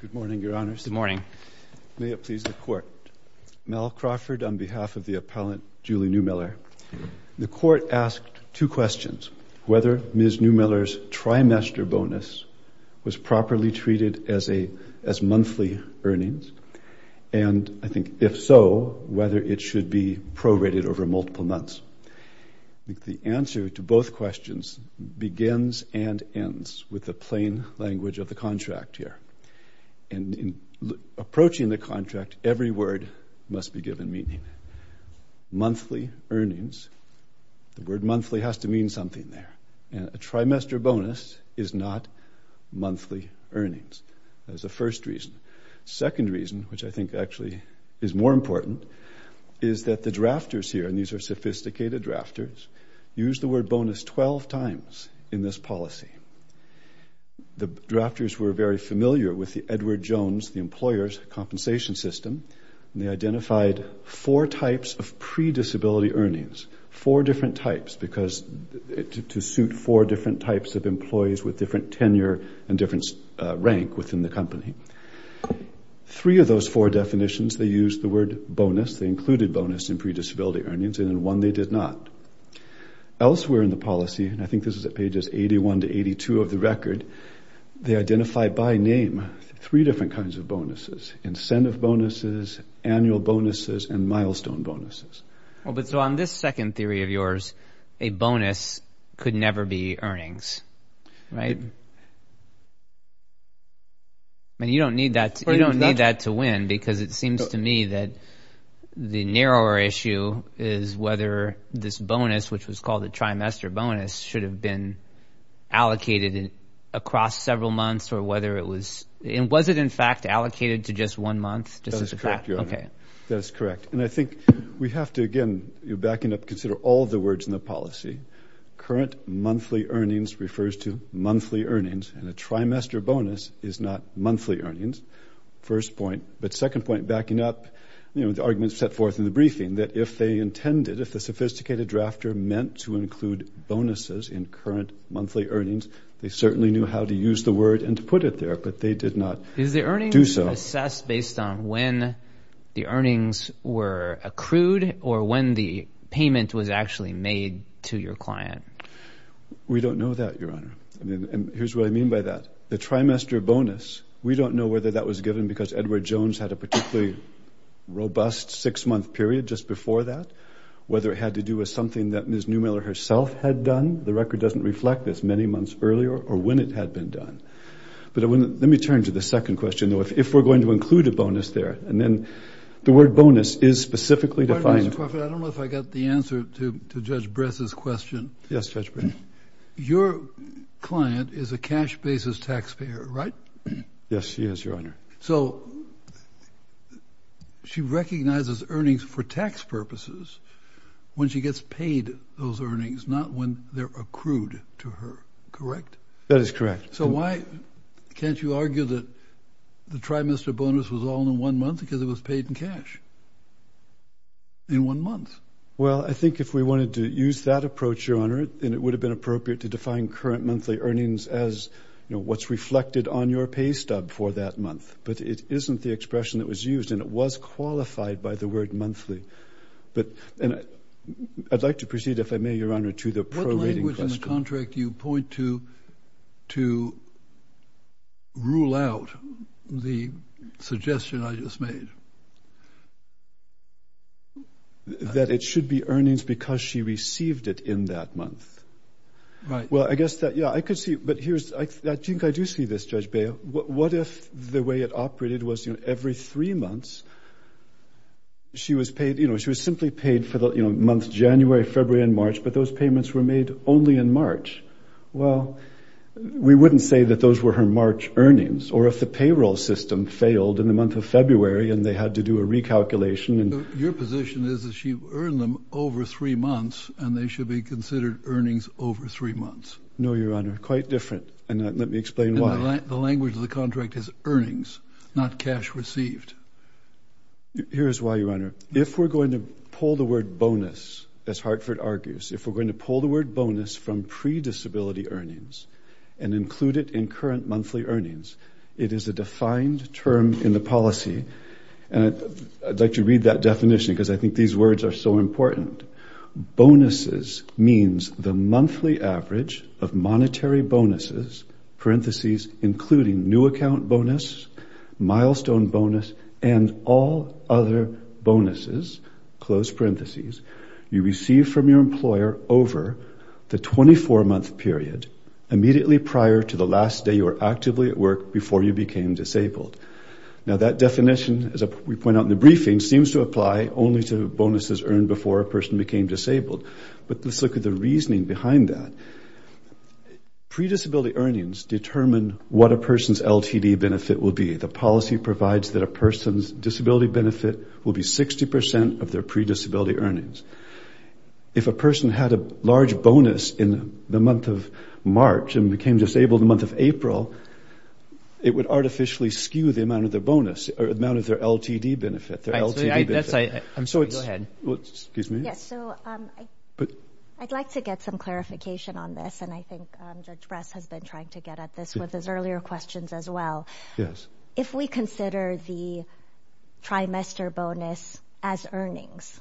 Good morning, Your Honors. Good morning. May it please the Court. Mel Crawford on behalf of the appellant, Julie Neumiller. The Court asked two questions. Whether Ms. Neumiller's trimester bonus was properly treated as monthly earnings, and, I think, if so, whether it should be prorated over multiple months. I think the answer to both questions begins and ends with the plain language of the contract here. And in approaching the contract, every word must be given meaning. Monthly earnings, the word monthly has to mean something there. A trimester bonus is not monthly earnings. That is the first reason. The second reason, which I think actually is more important, is that the drafters here, and these are sophisticated drafters, use the word bonus 12 times in this policy. The drafters were very familiar with the Edward Jones, the employer's compensation system, and they identified four types of pre-disability earnings, four different types to suit four different types of employees with different tenure and different rank within the company. Three of those four definitions, they used the word bonus, they included bonus in pre-disability earnings, and in one they did not. Elsewhere in the policy, and I think this is at pages 81 to 82 of the record, they identified by name three different kinds of bonuses, incentive bonuses, annual bonuses, and milestone bonuses. But so on this second theory of yours, a bonus could never be earnings, right? I mean, you don't need that to win because it seems to me that the narrower issue is whether this bonus, which was called a trimester bonus, should have been allocated across several months or whether it was... And was it in fact allocated to just one month? That is correct, Your Honor. Okay. That is correct. And I think we have to, again, you're backing up, consider all of the words in the policy. Current monthly earnings refers to monthly earnings, and a trimester bonus is not monthly earnings, first point. But second point, backing up the arguments set forth in the briefing, that if they intended, if the sophisticated drafter meant to include bonuses in current monthly earnings, they certainly knew how to use the word and to put it there, but they did not do so. Is the earnings assessed based on when the earnings were accrued or when the payment was actually made to your client? We don't know that, Your Honor. And here's what I mean by that. The trimester bonus, we don't know whether that was given because Edward Jones had a particularly robust six-month period just before that, whether it had to do with something that Ms. Neumiller herself had done. The record doesn't reflect this, many months earlier or when it had been done. But let me turn to the second question, though. If we're going to include a bonus there, and then the word bonus is specifically defined. Pardon me, Mr. Crawford. I don't know if I got the answer to Judge Bress's question. Yes, Judge Bress. Your client is a cash basis taxpayer, right? Yes, she is, Your Honor. So she recognizes earnings for tax purposes when she gets paid those earnings, not when they're accrued to her, correct? That is correct. So why can't you argue that the trimester bonus was all in one month because it was paid in cash in one month? Well, I think if we wanted to use that approach, Your Honor, then it would have been appropriate to define current monthly earnings as, you know, what's reflected on your pay stub for that month. But it isn't the expression that was used, and it was qualified by the word monthly. And I'd like to proceed, if I may, Your Honor, to the prorating question. Which contract do you point to to rule out the suggestion I just made? That it should be earnings because she received it in that month. Right. Well, I guess that, yeah, I could see it. But here's, I think I do see this, Judge Bail. What if the way it operated was, you know, every three months she was paid, you know, she was simply paid for the, you know, month January, February, and March, but those payments were made only in March? Well, we wouldn't say that those were her March earnings. Or if the payroll system failed in the month of February and they had to do a recalculation and – Your position is that she earned them over three months and they should be considered earnings over three months. No, Your Honor, quite different. And let me explain why. The language of the contract is earnings, not cash received. Here's why, Your Honor. If we're going to pull the word bonus, as Hartford argues, if we're going to pull the word bonus from pre-disability earnings and include it in current monthly earnings, it is a defined term in the policy. And I'd like to read that definition because I think these words are so important. Bonuses means the monthly average of monetary bonuses, parentheses, including new account bonus, milestone bonus, and all other bonuses, close parentheses, you receive from your employer over the 24-month period immediately prior to the last day you were actively at work before you became disabled. Now, that definition, as we point out in the briefing, seems to apply only to bonuses earned before a person became disabled. But let's look at the reasoning behind that. Pre-disability earnings determine what a person's LTD benefit will be. The policy provides that a person's disability benefit will be 60% of their pre-disability earnings. If a person had a large bonus in the month of March and became disabled in the month of April, it would artificially skew the amount of their bonus or the amount of their LTD benefit, their LTD benefit. I'm sorry, go ahead. Yes, so I'd like to get some clarification on this, and I think Judge Bress has been trying to get at this with his earlier questions as well. If we consider the trimester bonus as earnings,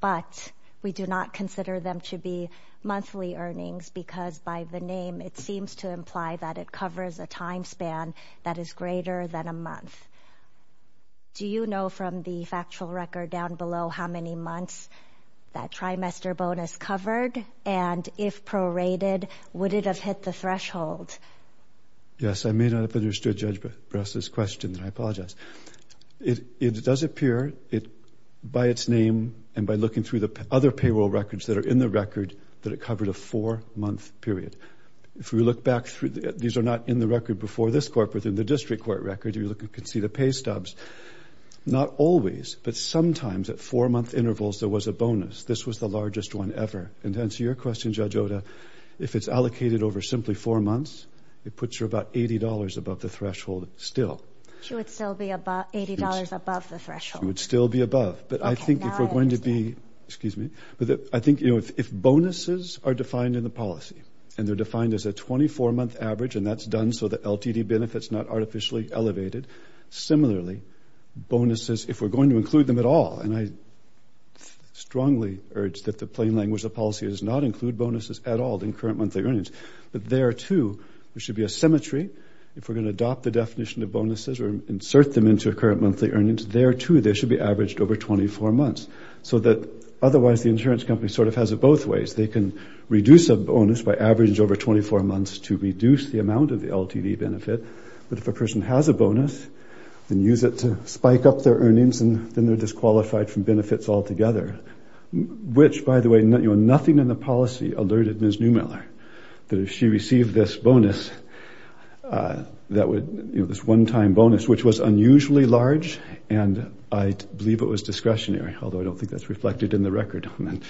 but we do not consider them to be monthly earnings because by the name, it seems to imply that it covers a time span that is greater than a month, do you know from the factual record down below how many months that trimester bonus covered? And if prorated, would it have hit the threshold? Yes, I may not have understood Judge Bress's question, and I apologize. It does appear by its name and by looking through the other payroll records that are in the record that it covered a four-month period. If we look back through, these are not in the record before this court, but within the district court record, you can see the pay stubs. Not always, but sometimes at four-month intervals, there was a bonus. This was the largest one ever. And to answer your question, Judge Oda, if it's allocated over simply four months, it puts her about $80 above the threshold still. She would still be $80 above the threshold? She would still be above. But I think if we're going to be, excuse me, I think if bonuses are defined in the policy and they're defined as a 24-month average, and that's done so that LTD benefits are not artificially elevated. Similarly, bonuses, if we're going to include them at all, and I strongly urge that the plain language of the policy is not include bonuses at all in current monthly earnings, but there, too, there should be a symmetry. If we're going to adopt the definition of bonuses or insert them into a current monthly earnings, there, too, they should be averaged over 24 months, so that otherwise the insurance company sort of has it both ways. They can reduce a bonus by average over 24 months to reduce the amount of the LTD benefit, but if a person has a bonus and use it to spike up their earnings, then they're disqualified from benefits altogether, which, by the way, nothing in the policy alerted Ms. Neumiller that if she received this bonus, this one-time bonus, which was unusually large, and I believe it was discretionary, although I don't think that's reflected in the record. I mean,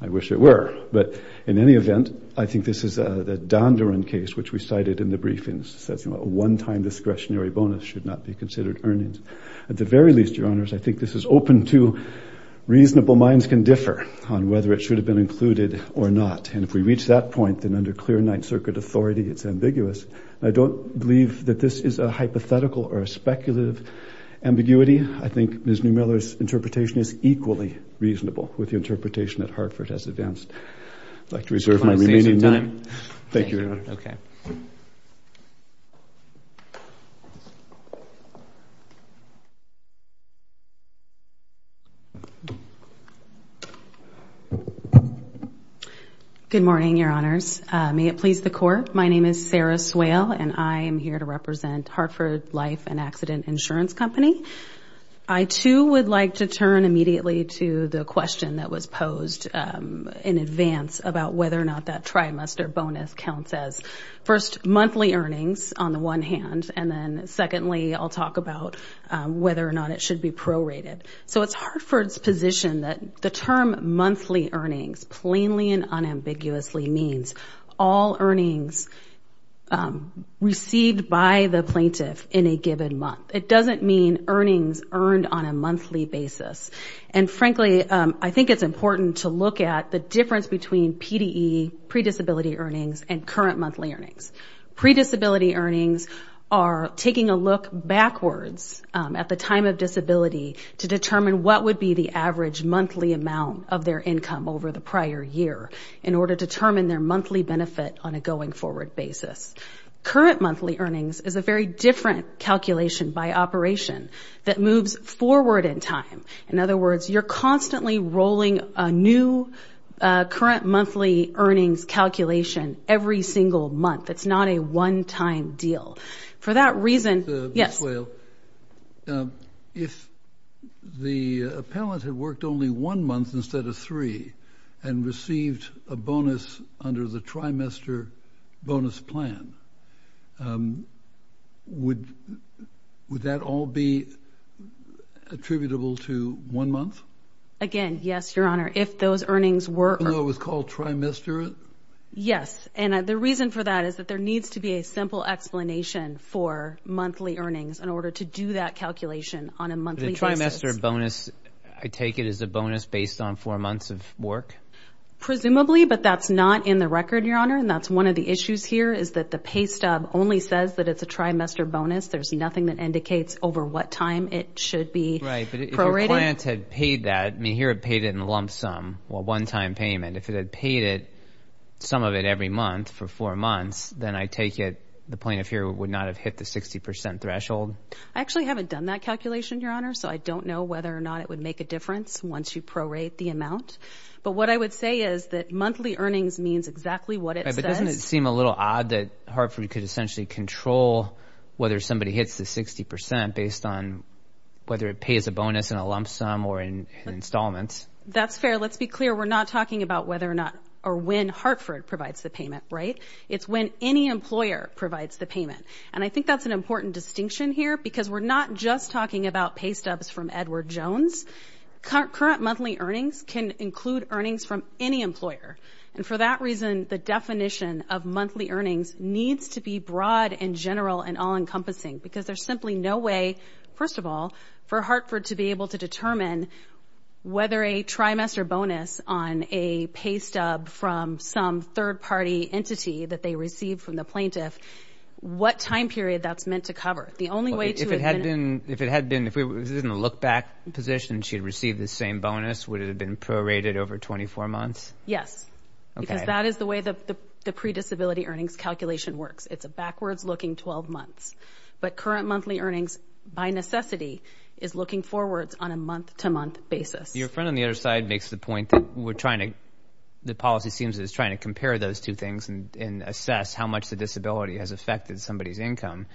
I wish it were, but in any event, I think this is the Dondurant case, which we cited in the briefings. It says, you know, a one-time discretionary bonus should not be considered earnings. At the very least, Your Honors, I think this is open to reasonable minds can differ on whether it should have been included or not, and if we reach that point, then under clear Ninth Circuit authority, it's ambiguous. I don't believe that this is a hypothetical or a speculative ambiguity. I think Ms. Neumiller's interpretation is equally reasonable with the interpretation that Hartford has advanced. I'd like to reserve my remaining time. Thank you, Your Honors. Okay. Good morning, Your Honors. May it please the Court, my name is Sarah Swale, and I am here to represent Hartford Life and Accident Insurance Company. I, too, would like to turn immediately to the question that was posed in advance about whether or not that trimester bonus counts as, first, monthly earnings on the one hand, and then, secondly, I'll talk about whether or not it should be prorated. So it's Hartford's position that the term monthly earnings plainly and unambiguously means all earnings received by the plaintiff in a given month. It doesn't mean earnings earned on a monthly basis, and frankly I think it's important to look at the difference between PDE, predisability earnings, and current monthly earnings. Predisability earnings are taking a look backwards at the time of disability to determine what would be the average monthly amount of their income over the prior year in order to determine their monthly benefit on a going forward basis. Current monthly earnings is a very different calculation by operation that moves forward in time. In other words, you're constantly rolling a new current monthly earnings calculation every single month. It's not a one-time deal. If the appellant had worked only one month instead of three and received a bonus under the trimester bonus plan, would that all be attributable to one month? Again, yes, Your Honor. Even though it was called trimester? Yes, and the reason for that is that there needs to be a simple explanation for monthly earnings in order to do that calculation on a monthly basis. The trimester bonus, I take it, is a bonus based on four months of work? Presumably, but that's not in the record, Your Honor, and that's one of the issues here is that the pay stub only says that it's a trimester bonus. There's nothing that indicates over what time it should be prorated. Right, but if your client had paid that, I mean here it paid it in lump sum, well, one-time payment, if it had paid some of it every month for four months, then I take it the plaintiff here would not have hit the 60% threshold? I actually haven't done that calculation, Your Honor, so I don't know whether or not it would make a difference once you prorate the amount. But what I would say is that monthly earnings means exactly what it says. Right, but doesn't it seem a little odd that Hartford could essentially control whether somebody hits the 60% based on whether it pays a bonus in a lump sum or in installments? That's fair. Let's be clear. We're not talking about whether or not or when Hartford provides the payment, right? It's when any employer provides the payment, and I think that's an important distinction here because we're not just talking about pay stubs from Edward Jones. Current monthly earnings can include earnings from any employer, and for that reason the definition of monthly earnings needs to be broad and general and all-encompassing because there's simply no way, first of all, for Hartford to be able to determine whether a trimester bonus on a pay stub from some third-party entity that they received from the plaintiff, what time period that's meant to cover. If it had been in a look-back position, she'd receive the same bonus. Would it have been prorated over 24 months? Yes, because that is the way the predisability earnings calculation works. It's a backwards-looking 12 months. But current monthly earnings, by necessity, is looking forwards on a month-to-month basis. Your friend on the other side makes the point that we're trying to, the policy seems to be trying to compare those two things and assess how much the disability has affected somebody's income.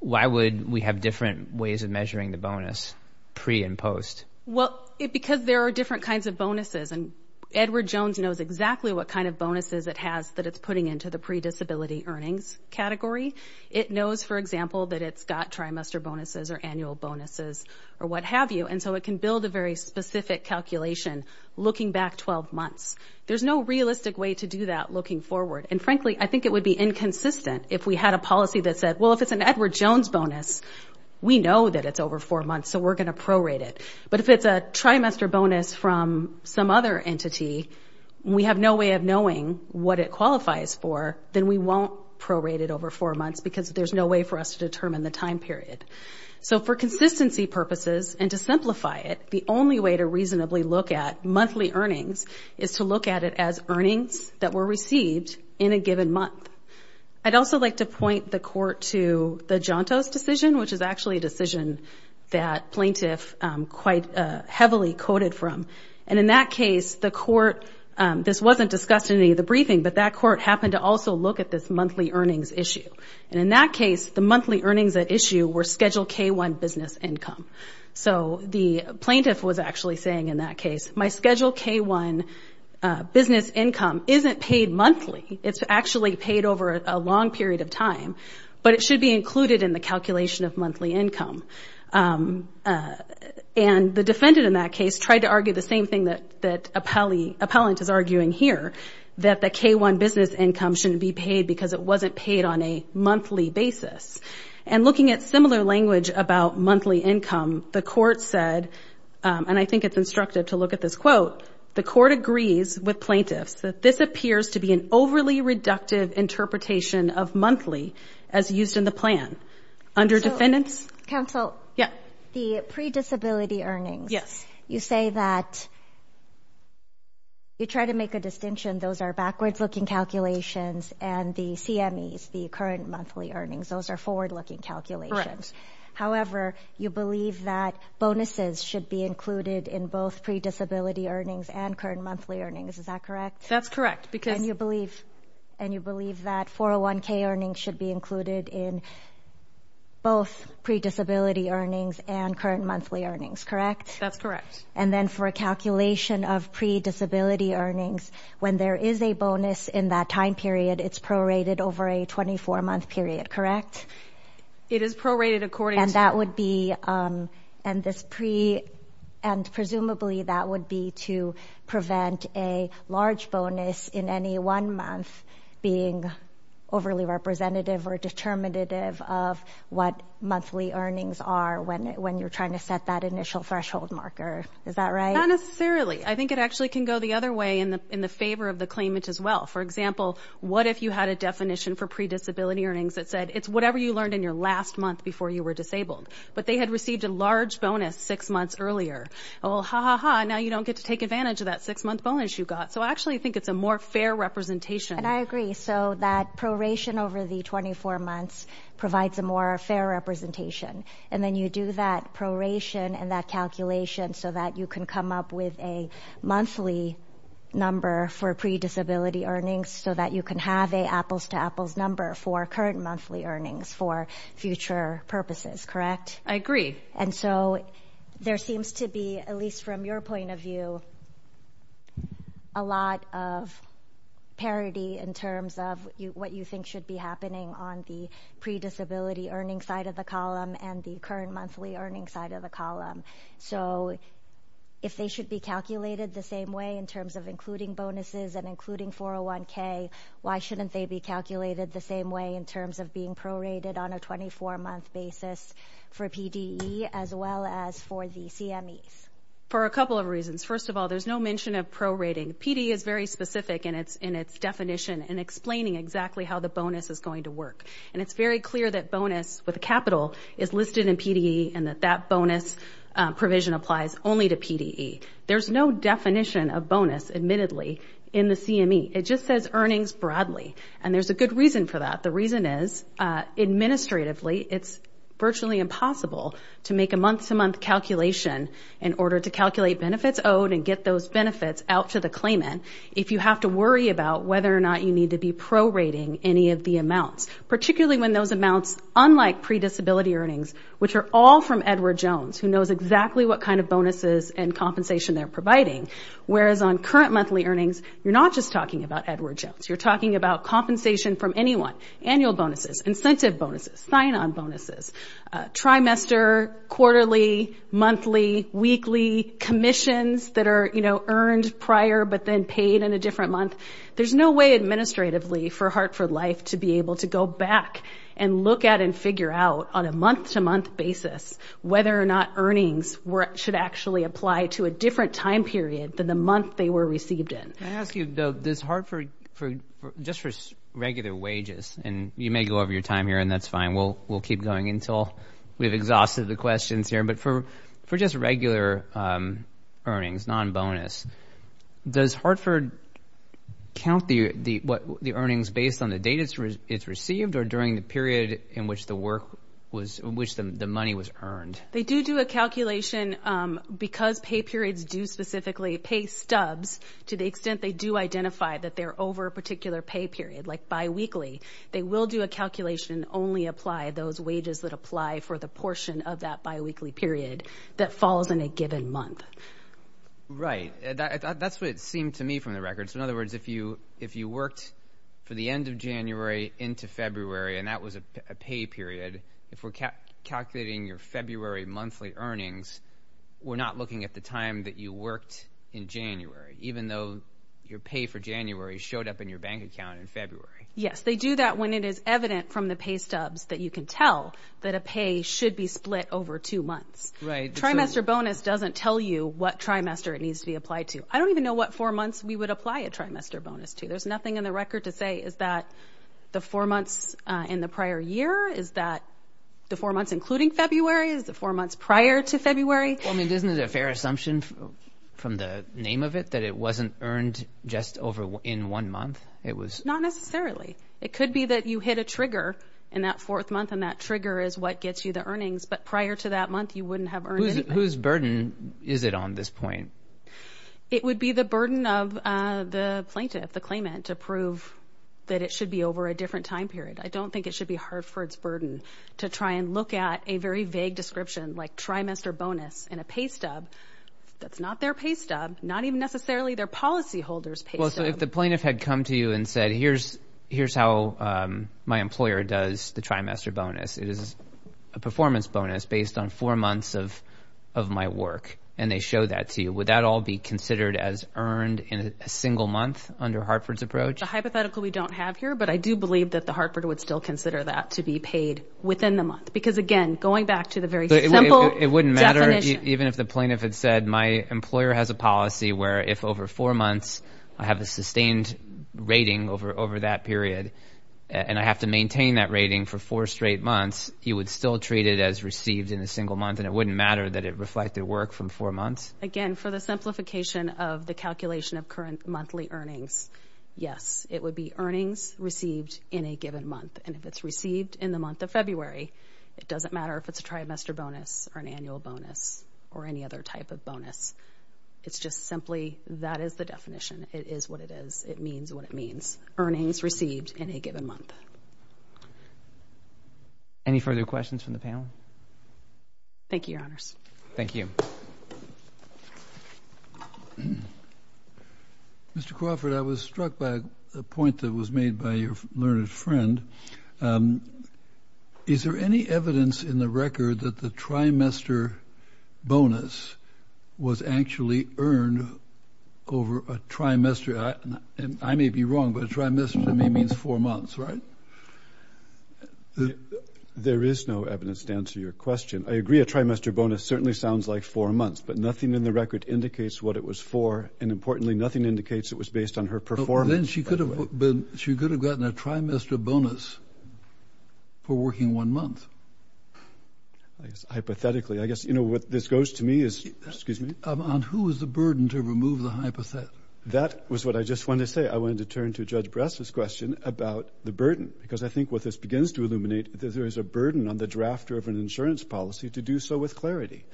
Why would we have different ways of measuring the bonus pre and post? Well, because there are different kinds of bonuses, and Edward Jones knows exactly what kind of bonuses it has that it's putting into the predisability earnings category. It knows, for example, that it's got trimester bonuses or annual bonuses or what have you, and so it can build a very specific calculation looking back 12 months. There's no realistic way to do that looking forward. And frankly, I think it would be inconsistent if we had a policy that said, well, if it's an Edward Jones bonus, we know that it's over 4 months, so we're going to prorate it. But if it's a trimester bonus from some other entity, we have no way of knowing what it qualifies for, then we won't prorate it over 4 months because there's no way for us to determine the time period. So for consistency purposes and to simplify it, the only way to reasonably look at monthly earnings is to look at it as earnings that were received in a given month. I'd also like to point the court to the Jantos decision, which is actually a decision that plaintiff quite heavily quoted from. And in that case, the court, this wasn't discussed in any of the briefing, but that court happened to also look at this monthly earnings issue. And in that case, the monthly earnings at issue were Schedule K-1 business income. So the plaintiff was actually saying in that case, my Schedule K-1 business income isn't paid monthly. It's actually paid over a long period of time, but it should be included in the calculation of monthly income. And the defendant in that case tried to argue the same thing that appellant is arguing here, that the K-1 business income shouldn't be paid because it wasn't paid on a monthly basis. And looking at similar language about monthly income, the court said, and I think it's instructive to look at this quote, the court agrees with plaintiffs that this appears to be an overly reductive interpretation of monthly as used in the plan. Under defendants? Counsel. Yeah. The pre-disability earnings. Yes. You say that you try to make a distinction. Those are backwards-looking calculations, and the CMEs, the current monthly earnings, those are forward-looking calculations. Correct. However, you believe that bonuses should be included in both pre-disability earnings and current monthly earnings. Is that correct? That's correct. And you believe that 401K earnings should be included in both pre-disability earnings and current monthly earnings, correct? That's correct. And then for a calculation of pre-disability earnings, when there is a bonus in that time period, it's prorated over a 24-month period, correct? It is prorated according to. And that would be, and presumably that would be to prevent a large bonus in any one month being overly representative or determinative of what monthly earnings are when you're trying to set that initial threshold marker. Is that right? Not necessarily. I think it actually can go the other way in the favor of the claimant as well. For example, what if you had a definition for pre-disability earnings that said, it's whatever you learned in your last month before you were disabled, but they had received a large bonus six months earlier? Well, ha, ha, ha, now you don't get to take advantage of that six-month bonus you got. So I actually think it's a more fair representation. And I agree. So that proration over the 24 months provides a more fair representation. And then you do that proration and that calculation so that you can come up with a monthly number for pre-disability earnings so that you can have an apples-to-apples number for current monthly earnings for future purposes, correct? I agree. And so there seems to be, at least from your point of view, a lot of parity in terms of what you think should be happening on the pre-disability earnings side of the column and the current monthly earnings side of the column. So if they should be calculated the same way in terms of including bonuses and including 401K, why shouldn't they be calculated the same way in terms of being prorated on a 24-month basis for PDE as well as for the CMEs? For a couple of reasons. First of all, there's no mention of prorating. PDE is very specific in its definition and explaining exactly how the bonus is going to work. And it's very clear that bonus with a capital is listed in PDE and that that bonus provision applies only to PDE. There's no definition of bonus, admittedly, in the CME. It just says earnings broadly. And there's a good reason for that. The reason is, administratively, it's virtually impossible to make a month-to-month calculation in order to calculate benefits owed and get those benefits out to the claimant. If you have to worry about whether or not you need to be prorating any of the amounts, particularly when those amounts, unlike predisability earnings, which are all from Edward Jones, who knows exactly what kind of bonuses and compensation they're providing, whereas on current monthly earnings, you're not just talking about Edward Jones. You're talking about compensation from anyone, annual bonuses, incentive bonuses, sign-on bonuses, trimester, quarterly, monthly, weekly, commissions that are, you know, earned prior but then paid in a different month. There's no way administratively for Hartford Life to be able to go back and look at and figure out on a month-to-month basis whether or not earnings should actually apply to a different time period than the month they were received in. Can I ask you, though, does Hartford, just for regular wages, and you may go over your time here, and that's fine. We'll keep going until we've exhausted the questions here. But for just regular earnings, non-bonus, does Hartford count the earnings based on the date it's received or during the period in which the money was earned? They do do a calculation because pay periods do specifically pay stubs to the extent they do identify that they're over a particular pay period, like biweekly. They will do a calculation and only apply those wages that apply for the portion of that biweekly period that falls in a given month. Right. That's what it seemed to me from the records. In other words, if you worked for the end of January into February and that was a pay period, if we're calculating your February monthly earnings, we're not looking at the time that you worked in January, even though your pay for January showed up in your bank account in February. Yes, they do that when it is evident from the pay stubs that you can tell that a pay should be split over two months. Right. Trimester bonus doesn't tell you what trimester it needs to be applied to. I don't even know what four months we would apply a trimester bonus to. There's nothing in the record to say is that the four months in the prior year, is that the four months including February, is the four months prior to February. Isn't it a fair assumption from the name of it that it wasn't earned just in one month? Not necessarily. It could be that you hit a trigger in that fourth month and that trigger is what gets you the earnings, but prior to that month you wouldn't have earned anything. Whose burden is it on this point? It would be the burden of the plaintiff, the claimant, to prove that it should be over a different time period. I don't think it should be Hartford's burden to try and look at a very vague description like trimester bonus in a pay stub that's not their pay stub, not even necessarily their policyholder's pay stub. So if the plaintiff had come to you and said, here's how my employer does the trimester bonus, it is a performance bonus based on four months of my work, and they show that to you, would that all be considered as earned in a single month under Hartford's approach? A hypothetical we don't have here, but I do believe that the Hartford would still consider that to be paid within the month, because again, going back to the very simple definition. It wouldn't matter even if the plaintiff had said, my employer has a policy where if over four months, I have a sustained rating over that period, and I have to maintain that rating for four straight months, he would still treat it as received in a single month, and it wouldn't matter that it reflected work from four months. Again, for the simplification of the calculation of current monthly earnings, yes, it would be earnings received in a given month. And if it's received in the month of February, it doesn't matter if it's a trimester bonus or an annual bonus or any other type of bonus. It's just simply that is the definition. It is what it is. It means what it means. Earnings received in a given month. Any further questions from the panel? Thank you, Your Honors. Thank you. Mr. Crawford, I was struck by a point that was made by your learned friend. Is there any evidence in the record that the trimester bonus was actually earned over a trimester? I may be wrong, but a trimester to me means four months, right? There is no evidence to answer your question. I agree a trimester bonus certainly sounds like four months, but nothing in the record indicates what it was for, and importantly, nothing indicates it was based on her performance. Then she could have gotten a trimester bonus for working one month. Hypothetically, I guess, you know, what this goes to me is, excuse me? On who is the burden to remove the hypothesis? That was what I just wanted to say. I wanted to turn to Judge Bress's question about the burden because I think what this begins to illuminate is there is a burden on the drafter of an insurance policy to do so with clarity.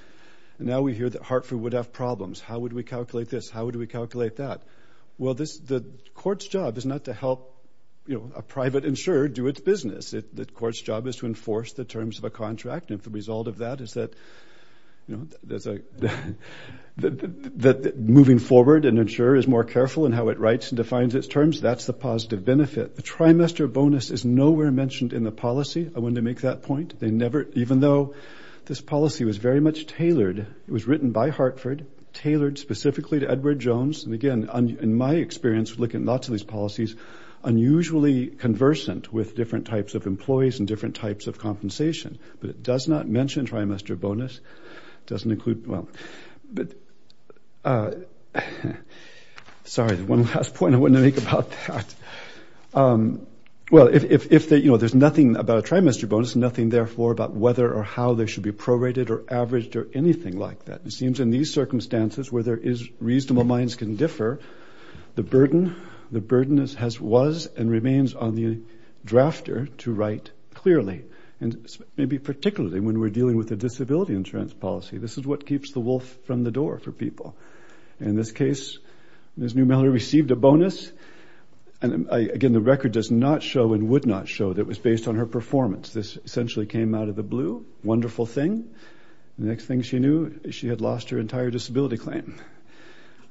Now we hear that Hartford would have problems. How would we calculate this? How would we calculate that? Well, the court's job is not to help a private insurer do its business. The court's job is to enforce the terms of a contract, and if the result of that is that moving forward an insurer is more careful in how it writes and defines its terms, that's the positive benefit. The trimester bonus is nowhere mentioned in the policy. I wanted to make that point. Even though this policy was very much tailored, it was written by Hartford, tailored specifically to Edward Jones. And, again, in my experience, looking at lots of these policies, unusually conversant with different types of employees and different types of compensation. But it does not mention trimester bonus. It doesn't include, well, sorry, one last point I wanted to make about that. Well, if, you know, there's nothing about a trimester bonus, nothing therefore about whether or how they should be prorated or averaged or anything like that. It seems in these circumstances where reasonable minds can differ, the burden was and remains on the drafter to write clearly. And maybe particularly when we're dealing with a disability insurance policy, this is what keeps the wolf from the door for people. In this case, Ms. Newmiller received a bonus. And, again, the record does not show and would not show that it was based on her performance. This essentially came out of the blue. Wonderful thing. The next thing she knew, she had lost her entire disability claim.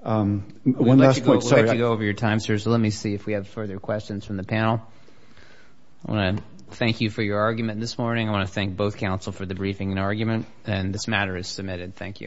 One last point. We'd like to go over your time, sir, so let me see if we have further questions from the panel. I want to thank you for your argument this morning. I want to thank both counsel for the briefing and argument. And this matter is submitted. Thank you.